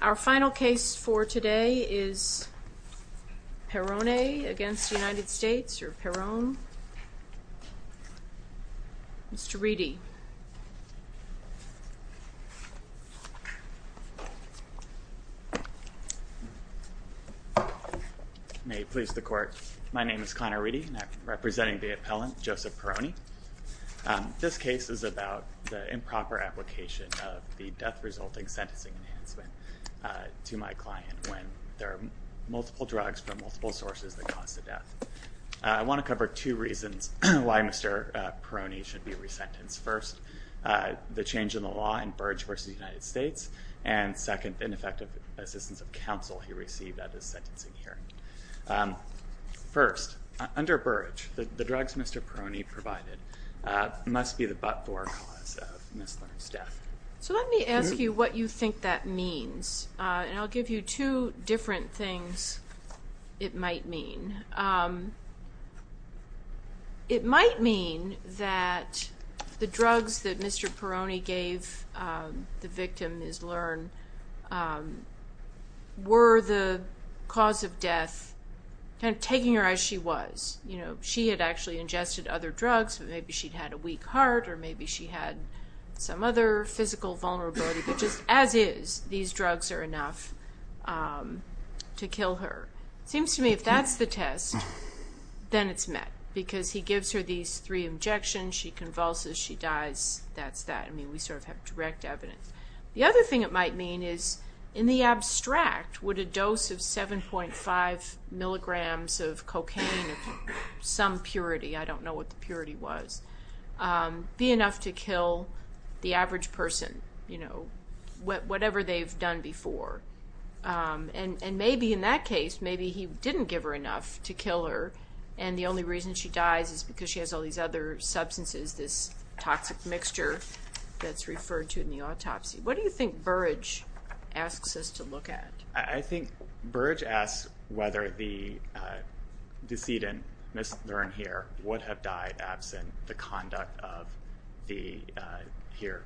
Our final case for today is Perrone v. United States, or Perrone. Mr. Reedy. May it please the Court. My name is Connor Reedy, and I'm representing the appellant Joseph Perrone. This case is about the improper application of the death-resulting sentencing enhancement to my client, when there are multiple drugs from multiple sources that cause a death. I want to cover two reasons why Mr. Perrone should be resentenced. First, the change in the law in Burge v. United States, and second, ineffective assistance of counsel he received at his sentencing hearing. First, under Burge, the drugs Mr. Perrone provided must be the but-for cause of Ms. Learn's death. So let me ask you what you think that means, and I'll give you two different things it cause of death, taking her as she was. She had actually ingested other drugs, but maybe she had a weak heart, or maybe she had some other physical vulnerability. As is, these drugs are enough to kill her. It seems to me if that's the test, then it's met, because he gives her these three injections, she convulses, she dies, that's that. We have direct evidence. The other thing it might mean is, in the abstract, would a dose of 7.5 milligrams of cocaine, some purity, I don't know what the purity was, be enough to kill the average person? Whatever they've done before. And maybe in that case, maybe he didn't give her enough to kill her, and the only reason she dies is because she has all these other substances, this toxic mixture that's referred to in the autopsy. What do you think Burrage asks us to look at? I think Burrage asks whether the decedent, Ms. Learn here, would have died absent the conduct of the, here,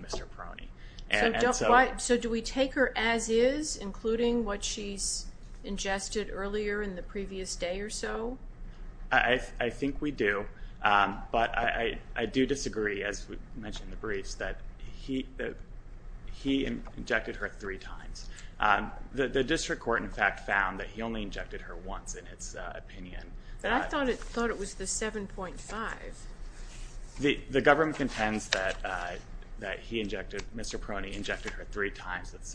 Mr. Peroni. So do we take her as is, including what she's ingested earlier in the previous day or so? I think we do, but I do disagree, as we mentioned in the briefs, that he injected her three times. The district court, in fact, found that he only injected her once, in its opinion. But I thought it was the 7.5. The government contends that he injected, Mr. Peroni injected her three times, that's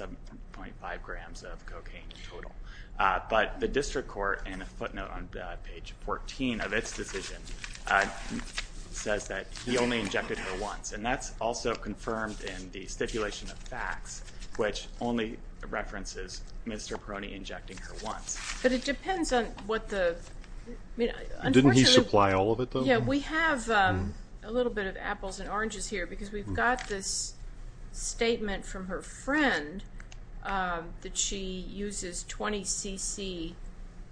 page 14 of its decision, says that he only injected her once. And that's also confirmed in the stipulation of facts, which only references Mr. Peroni injecting her once. But it depends on what the, I mean, unfortunately... Didn't he supply all of it, though? Yeah, we have a little bit of apples and oranges here, because we've got this statement from her friend that she uses 20 cc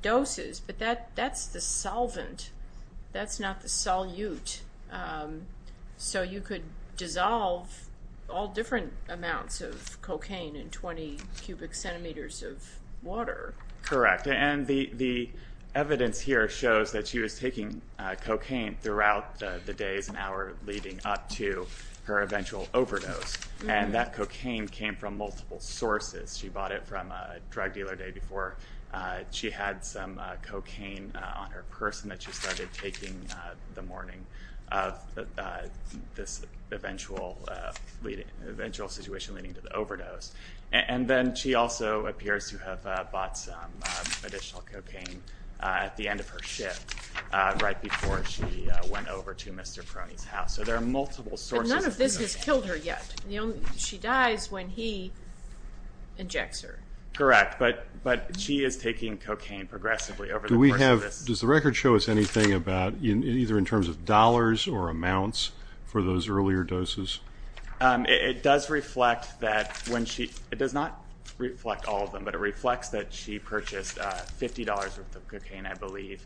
doses, but that's the solvent, that's not the solute. So you could dissolve all different amounts of cocaine in 20 cubic centimeters of water. Correct, and the evidence here shows that she was taking cocaine throughout the days and hour leading up to her eventual overdose. And that cocaine came from multiple sources. She bought it from a drug dealer the day before. She had some cocaine on her person that she started taking the morning of this eventual situation leading to the overdose. And then she also appears to have bought some additional cocaine at the end of her shift, right before she went over to Mr. Peroni's house. So there are multiple sources. But none of this has killed her yet. She dies when he injects her. Correct, but she is taking cocaine progressively over the course of this. Do we have, does the record show us anything about, either in terms of dollars or amounts for those earlier doses? It does reflect that when she, it does not reflect all of them, but it reflects that she purchased $50 worth of cocaine, I believe,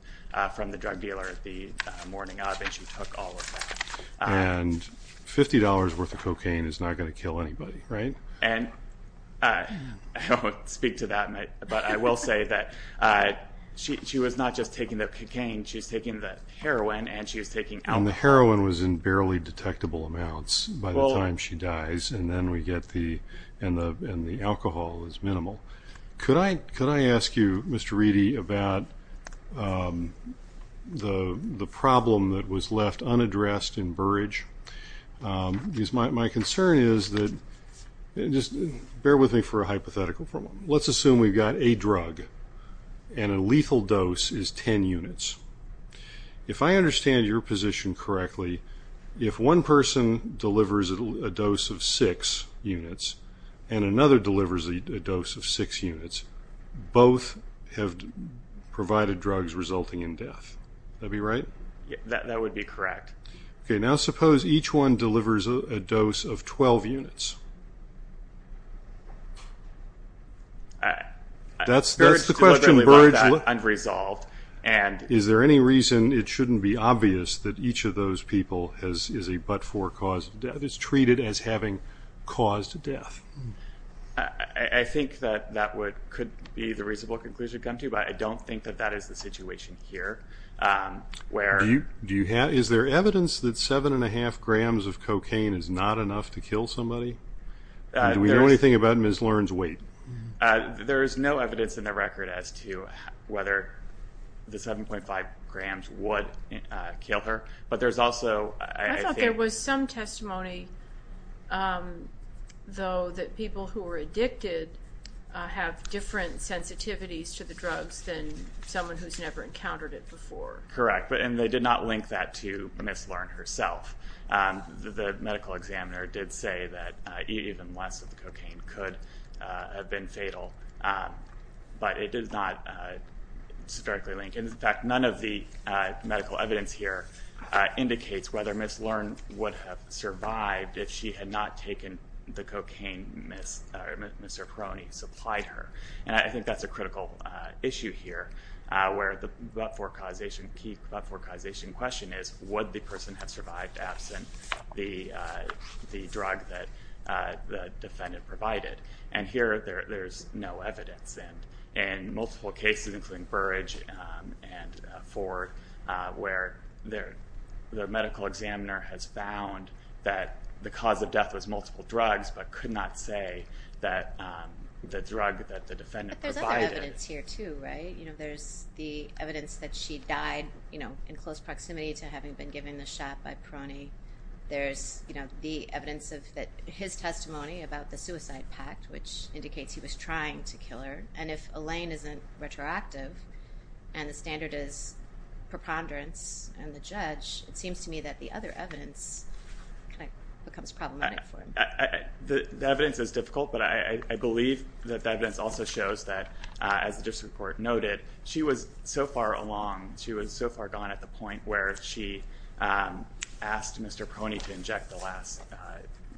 from the drug dealer the morning of and she took all of that. And $50 worth of cocaine is not going to kill anybody, right? And I don't speak to that, but I will say that she was not just taking the cocaine, she was taking the heroin and she was taking alcohol. And the heroin was in barely detectable amounts by the time she dies and then we get the, and the alcohol is minimal. Could I, could I ask you, Mr. Reedy, about the problem that was left unaddressed in Burridge? My concern is that, just bear with me for a hypothetical for a moment. Let's assume we've got a drug and a lethal dose is 10 units. If I understand your position correctly, if one person delivers a dose of 6 units, and another delivers a dose of 6 units, both have provided drugs resulting in death. Would that be right? That would be correct. Okay, now suppose each one delivers a dose of 12 units. That's the question, Burridge. Is there any reason it shouldn't be obvious that each of those people is a but-for cause of death, is treated as having cause to death? I think that that would, could be the reasonable conclusion to come to, but I don't think that that is the situation here, where... Is there evidence that 7.5 grams of cocaine is not enough to kill somebody? Do we know anything about Ms. Learn's weight? There's no evidence in the record as to whether the 7.5 grams would kill her, but there's also... I thought there was some testimony, though, that people who were addicted have different sensitivities to the drugs than someone who's never encountered it before. Correct, and they did not link that to Ms. Learn herself. The medical examiner did say that even less of the cocaine could have been fatal, but it does not strictly link, and in fact none of the medical evidence here indicates whether Ms. Learn would have survived if she had not taken the cocaine Mr. Peroni supplied her, and I think that's a critical issue here, where the but-for causation, key but-for causation question is, would the person have survived absent the drug that the defendant provided? And here, there's no evidence, and in multiple cases, including Burridge and Ford, where the medical examiner has found that the cause of death was multiple drugs, but could not say that the drug that the defendant provided... But there's other evidence here, too, right? There's the evidence that she died in close proximity to having been given the shot by Peroni. There's the evidence of his testimony about the suicide pact, which indicates he was trying to kill her, and if Elaine isn't retroactive, and the standard is preponderance, and the judge, it seems to me that the other evidence becomes problematic for him. The evidence is difficult, but I believe that the evidence also shows that, as the district court noted, she was so far along, she was so far gone at the point where she asked Mr. Peroni to inject the last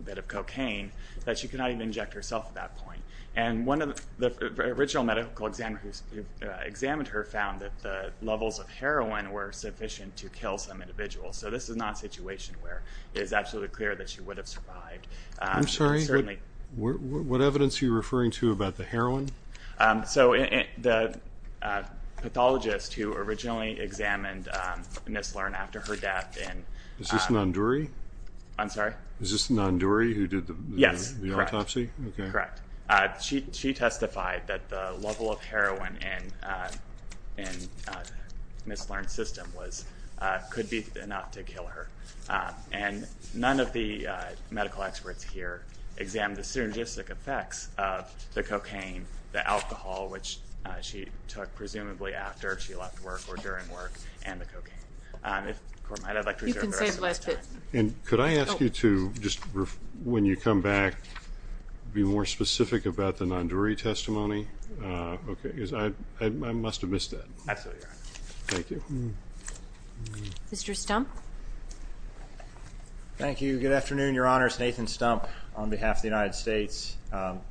bit of cocaine, that she could not even inject herself at that point. And one of the original medical examiners who examined her found that the levels of heroin were sufficient to kill some individuals, so this is not a situation where it is absolutely clear that she would have survived. I'm sorry, what evidence are you referring to about the heroin? So the pathologist who originally examined Ms. Lern after her death... Is this Nanduri? I'm sorry? Is this Nanduri who did the autopsy? Yes, correct. She testified that the level of heroin in Ms. Lern's system could be enough to kill her, and none of the medical experts here examined the synergistic effects of the cocaine, the alcohol, which she took presumably after she left work or during work, and the cocaine. If the court might, I'd like to reserve the rest of my time. And could I ask you to, when you come back, be more specific about the Nanduri testimony? Because I must have missed that. Absolutely right. Thank you. Mr. Stump? Thank you. Good afternoon, Your Honors. Nathan Stump on behalf of the United States.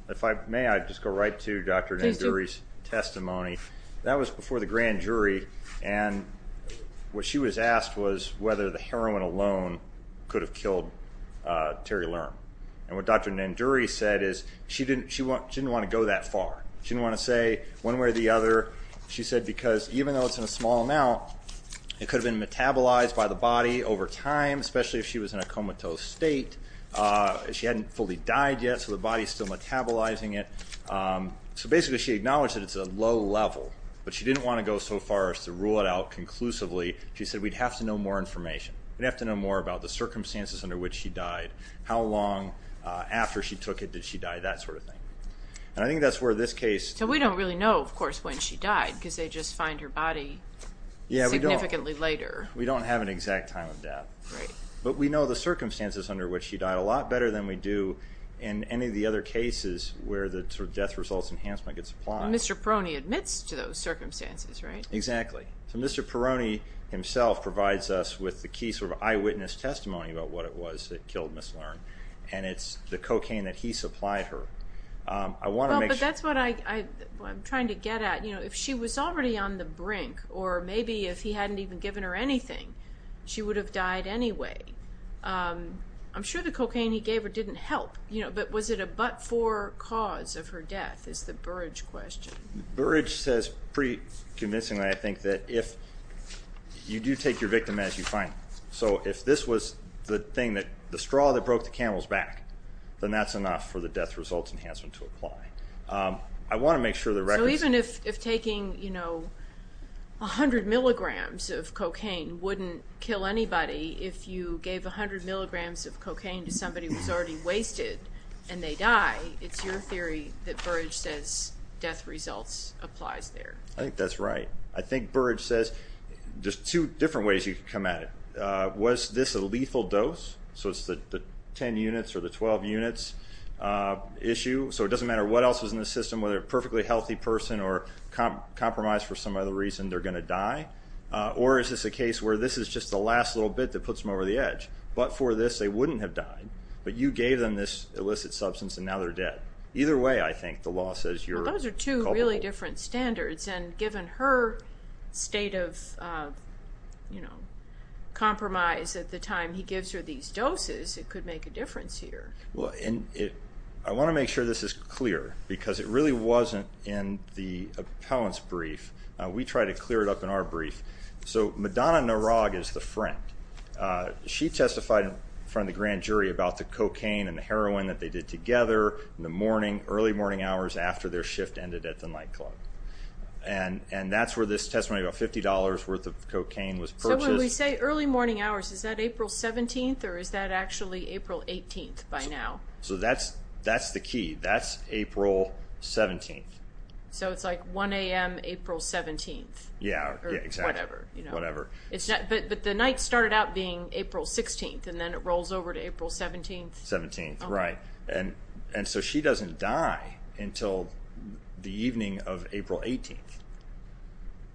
If I may, I'd just go right to Dr. Nanduri's testimony. That was before the grand jury, and what she was asked was whether the heroin alone could have killed Terry Lern. And what Dr. Nanduri said is she didn't want to go that far. She didn't want to say one way or the other. She said because even though it's in a small amount, it could have been metabolized by the body over time, especially if she was in a comatose state. She hadn't fully died yet, so the body's still metabolizing it. So basically she acknowledged that it's a low level, but she didn't want to go so far as to rule it out conclusively. She said we'd have to know more information. We'd have to know more about the circumstances under which she died, how long after she took it did she die, that sort of thing. And I think that's where this case... So we don't really know, of course, when she died, because they just find her body significantly later. Yeah, we don't. We don't have an exact time of death. Right. But we know the circumstances under which she died a lot better than we do in any of the other cases where the sort of death results enhancement gets applied. And Mr. Perroni admits to those circumstances, right? Exactly. So Mr. Perroni himself provides us with the key sort of eyewitness testimony about what it was that killed Ms. Learn. And it's the cocaine that he supplied her. I want to make sure... Well, but that's what I'm trying to get at. If she was already on the brink, or maybe if he hadn't even given her anything, she would have died anyway. I'm sure the cocaine he gave her didn't help. But was it a but-for cause of her death, is the Burrage question. Burrage says pretty convincingly, I think, that if... You do take your victim as you find them. So if this was the straw that broke the camel's back, then that's enough for the death results enhancement to apply. I want to make sure the records... So even if taking, you know, 100 milligrams of cocaine wouldn't kill anybody, if you gave 100 milligrams of cocaine to somebody who's already wasted and they die, it's your theory that Burrage says death results applies there. I think that's right. I think Burrage says... There's two different ways you can come at it. Was this a lethal dose? So it's the 10 units or the 12 units issue. So it doesn't matter what else was in the system, whether a perfectly healthy person or compromised for some other reason, they're going to die. Or is this a case where this is just the last little bit that puts them over the edge? But for this, they wouldn't have died. But you gave them this illicit substance and now they're dead. Either way, I think, the law says you're... Well, those are two really different standards. And given her state of, you know, compromise at the time he gives her these doses, it could make a difference here. Well, and I want to make sure this is clear, because it really wasn't in the appellant's brief. We try to clear it up in our brief. So Madonna Narag is the friend. She testified in front of the grand jury about the cocaine and the heroin that they did together in the morning, early morning hours, after their shift ended at the nightclub. And that's where this testimony about $50 worth of cocaine was purchased. So when we say early morning hours, is that April 17th? Or is that actually April 18th by now? So that's the key. That's April 17th. So it's like 1 a.m. April 17th. Yeah, exactly. Or whatever. But the night started out being April 16th and then it rolls over to April 17th? 17th, right. And so she doesn't die until the evening of April 18th.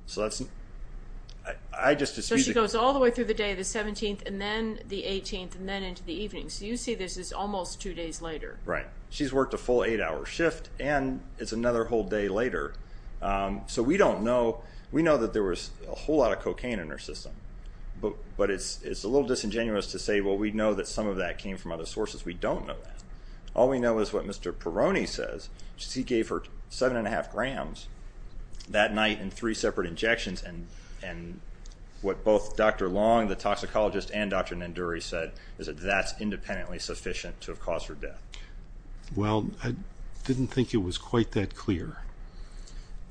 So she goes all the way through the day, the 17th, and then the 18th, and then into the evening. So you see this is almost two days later. Right. She's worked a full eight-hour shift and it's another whole day later. So we don't know. We know that there was a whole lot of cocaine in her system. But it's a little disingenuous to say, well, we know that some of that came from other sources. We don't know that. All we know is what Mr. Peroni says. He gave her 7 1⁄2 grams that night in three separate injections. And what both Dr. Long, the toxicologist, and Dr. Nanduri said, is that that's independently sufficient to have caused her death. Well, I didn't think it was quite that clear.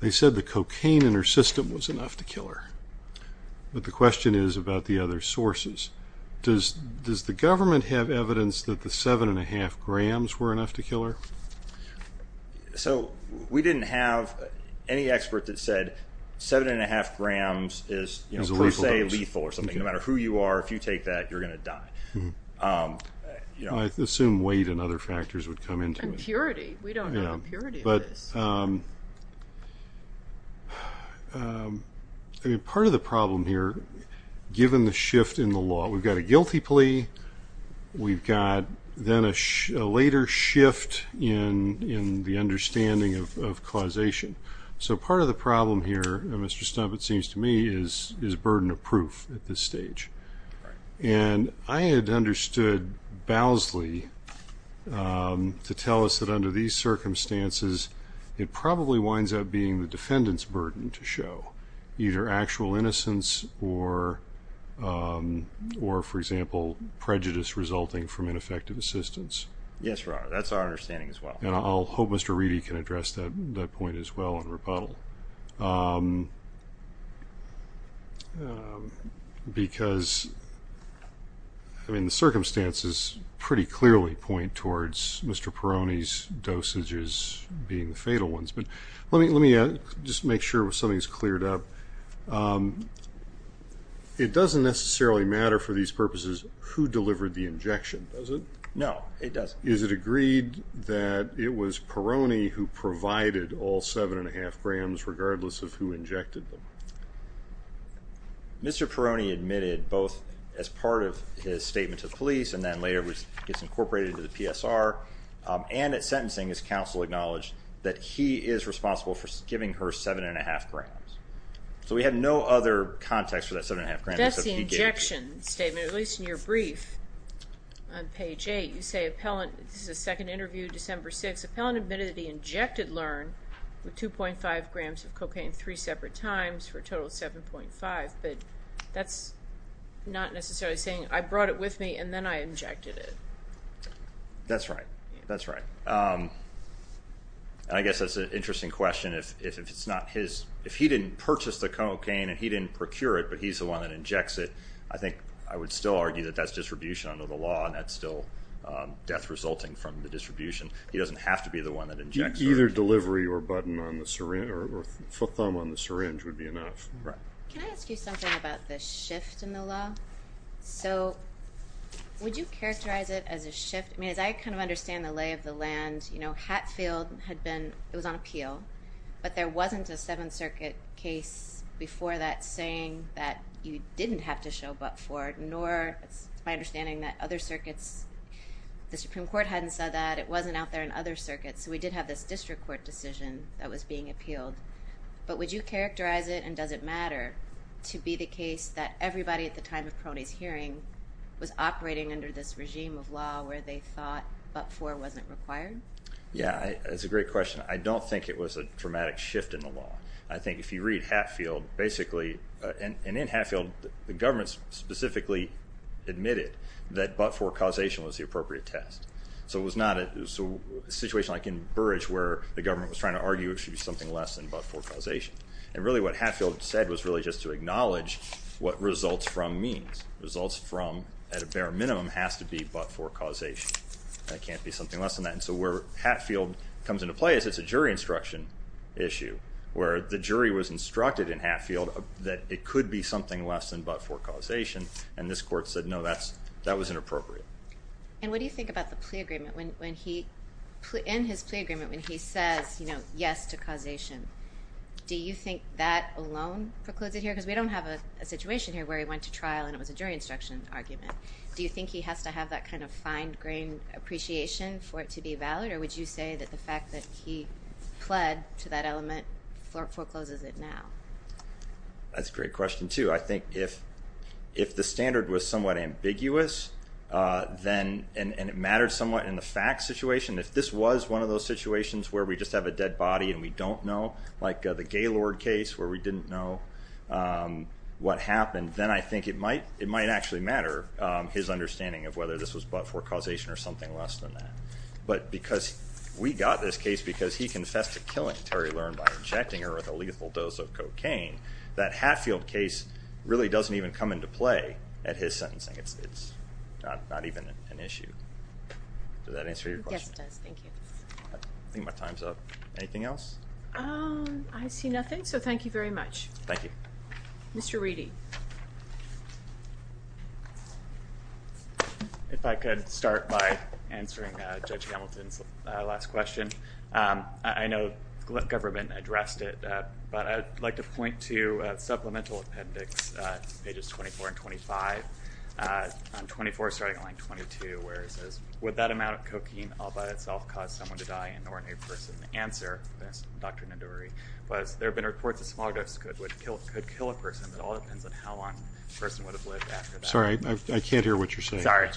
They said the cocaine in her system was enough to kill her. But the question is about the other sources. Does the government have evidence that the 7 1⁄2 grams were enough to kill her? So we didn't have any expert that said 7 1⁄2 grams is per se lethal or something. No matter who you are, if you take that, you're going to die. I assume weight and other factors would come into it. And purity. We don't know the purity of this. Part of the problem here, given the shift in the law, we've got a guilty plea. We've got then a later shift in the understanding of causation. So part of the problem here, Mr. Stump, it seems to me, is burden of proof at this stage. And I had understood Bowsley to tell us that under these circumstances, it probably winds up being the defendant's burden to show. Either actual innocence or, for example, prejudice resulting from ineffective assistance. Yes, Your Honor. That's our understanding as well. And I'll hope Mr. Reedy can address that point as well in rebuttal. Because, I mean, the circumstances pretty clearly point towards Mr. Perroni's dosages being the fatal ones. But let me just make sure something's cleared up. It doesn't necessarily matter for these purposes who delivered the injection, does it? No, it doesn't. Is it agreed that it was Perroni who provided all 7 1⁄2 grams, regardless of who injected them? Mr. Perroni admitted both as part of his statement to the police, and then later gets incorporated into the PSR, and at sentencing his counsel acknowledged that he is responsible for giving her 7 1⁄2 grams. So we have no other context for that 7 1⁄2 grams. That's the injection statement, at least in your brief. On page 8, you say, this is a second interview, December 6, Appellant admitted that he injected Learn with 2.5 grams of cocaine three separate times for a total of 7.5. But that's not necessarily saying, I brought it with me and then I injected it. That's right. That's right. I guess that's an interesting question. If he didn't purchase the cocaine and he didn't procure it, but he's the one that injects it, I think I would still argue that that's distribution under the law, and that's still death resulting from the distribution. He doesn't have to be the one that injects it. Either delivery or thumb on the syringe would be enough. Can I ask you something about the shift in the law? So would you characterize it as a shift? I mean, as I kind of understand the lay of the land, Hatfield had been, it was on appeal, but there wasn't a Seventh Circuit case before that saying that you didn't have to show up for it, or it's my understanding that other circuits, the Supreme Court hadn't said that, it wasn't out there in other circuits. So we did have this district court decision that was being appealed. But would you characterize it, and does it matter, to be the case that everybody at the time of Peroni's hearing was operating under this regime of law where they thought but for wasn't required? Yeah, that's a great question. I don't think it was a dramatic shift in the law. I think if you read Hatfield, basically, and in Hatfield, the government specifically admitted that but for causation was the appropriate test. So it was not a situation like in Burrage where the government was trying to argue it should be something less than but for causation. And really what Hatfield said was really just to acknowledge what results from means. Results from, at a bare minimum, has to be but for causation. That can't be something less than that. And so where Hatfield comes into play is it's a jury instruction issue, where the jury was instructed in Hatfield that it could be something less than but for causation. And this court said, no, that was inappropriate. And what do you think about the plea agreement? In his plea agreement, when he says yes to causation, do you think that alone precludes it here? Because we don't have a situation here where he went to trial and it was a jury instruction argument. Do you think he has to have that kind of fine-grained appreciation for it to be valid? Or would you say that the fact that he pled to that element forecloses it now? That's a great question, too. I think if the standard was somewhat ambiguous, and it mattered somewhat in the facts situation, if this was one of those situations where we just have a dead body and we don't know, like the Gaylord case where we didn't know what happened, then I think it might actually matter his understanding of whether this was but for causation or something less than that. But because we got this case because he confessed to killing Terry Learn by injecting her with a lethal dose of cocaine, that Hatfield case really doesn't even come into play at his sentencing. It's not even an issue. Does that answer your question? Yes, it does. Thank you. I think my time's up. Anything else? I see nothing, so thank you very much. Thank you. Mr. Reedy. If I could start by answering Judge Hamilton's last question. I know the government addressed it, but I'd like to point to Supplemental Appendix pages 24 and 25. On 24, starting on line 22, where it says, Would that amount of cocaine all by itself cause someone to die and nor a new person? The answer, Dr. Nadori, was there have been reports that a small dose could kill a person. It all depends on how long a person would have lived after that. Sorry, I can't hear what you're saying. Sorry.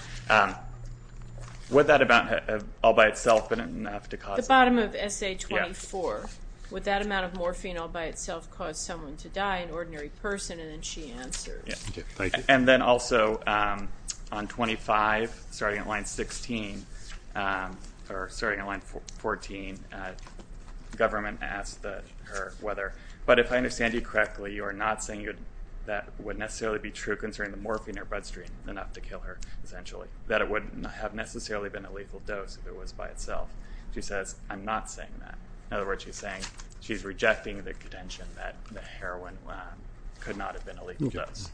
Would that amount all by itself have been enough to cause someone to die? The bottom of essay 24. Would that amount of morphine all by itself cause someone to die, an ordinary person? And then she answers. And then also on 25, starting on line 16, or starting on line 14, the government asked her whether, but if I understand you correctly, you are not saying that would necessarily be true concerning the morphine in her bloodstream enough to kill her, essentially, that it wouldn't have necessarily been a lethal dose if it was by itself. She says, I'm not saying that. In other words, she's saying she's rejecting the contention that the heroin could not have been a lethal dose.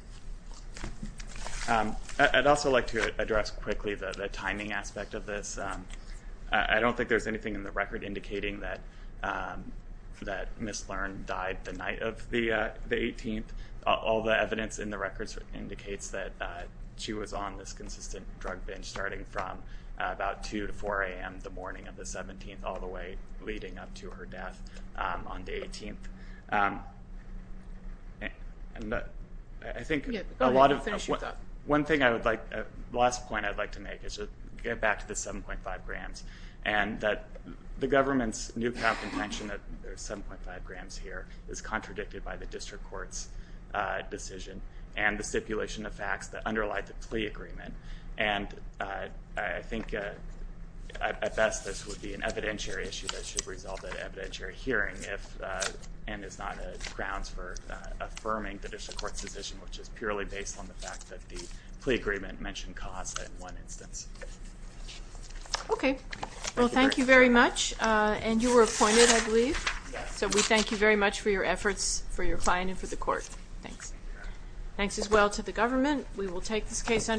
I'd also like to address quickly the timing aspect of this. I don't think there's anything in the record indicating that Ms. Learn died the night of the 18th. All the evidence in the records indicates that she was on this consistent drug binge starting from about 2 to 4 a.m. the morning of the 17th all the way leading up to her death on the 18th. And I think a lot of, one thing I would like, the last point I'd like to make is to get back to the 7.5 grams. And that the government's new found contention that there's 7.5 grams here is contradicted by the district court's decision and the stipulation of facts that underlie the plea agreement. And I think at best this would be an evidentiary issue that should result in an evidentiary hearing and is not grounds for affirming the district court's decision which is purely based on the fact that the plea agreement mentioned cause in one instance. Okay. Well, thank you very much. And you were appointed, I believe? Yes. So we thank you very much for your efforts, for your client, and for the court. Thanks. Thanks as well to the government. We will take this case under review.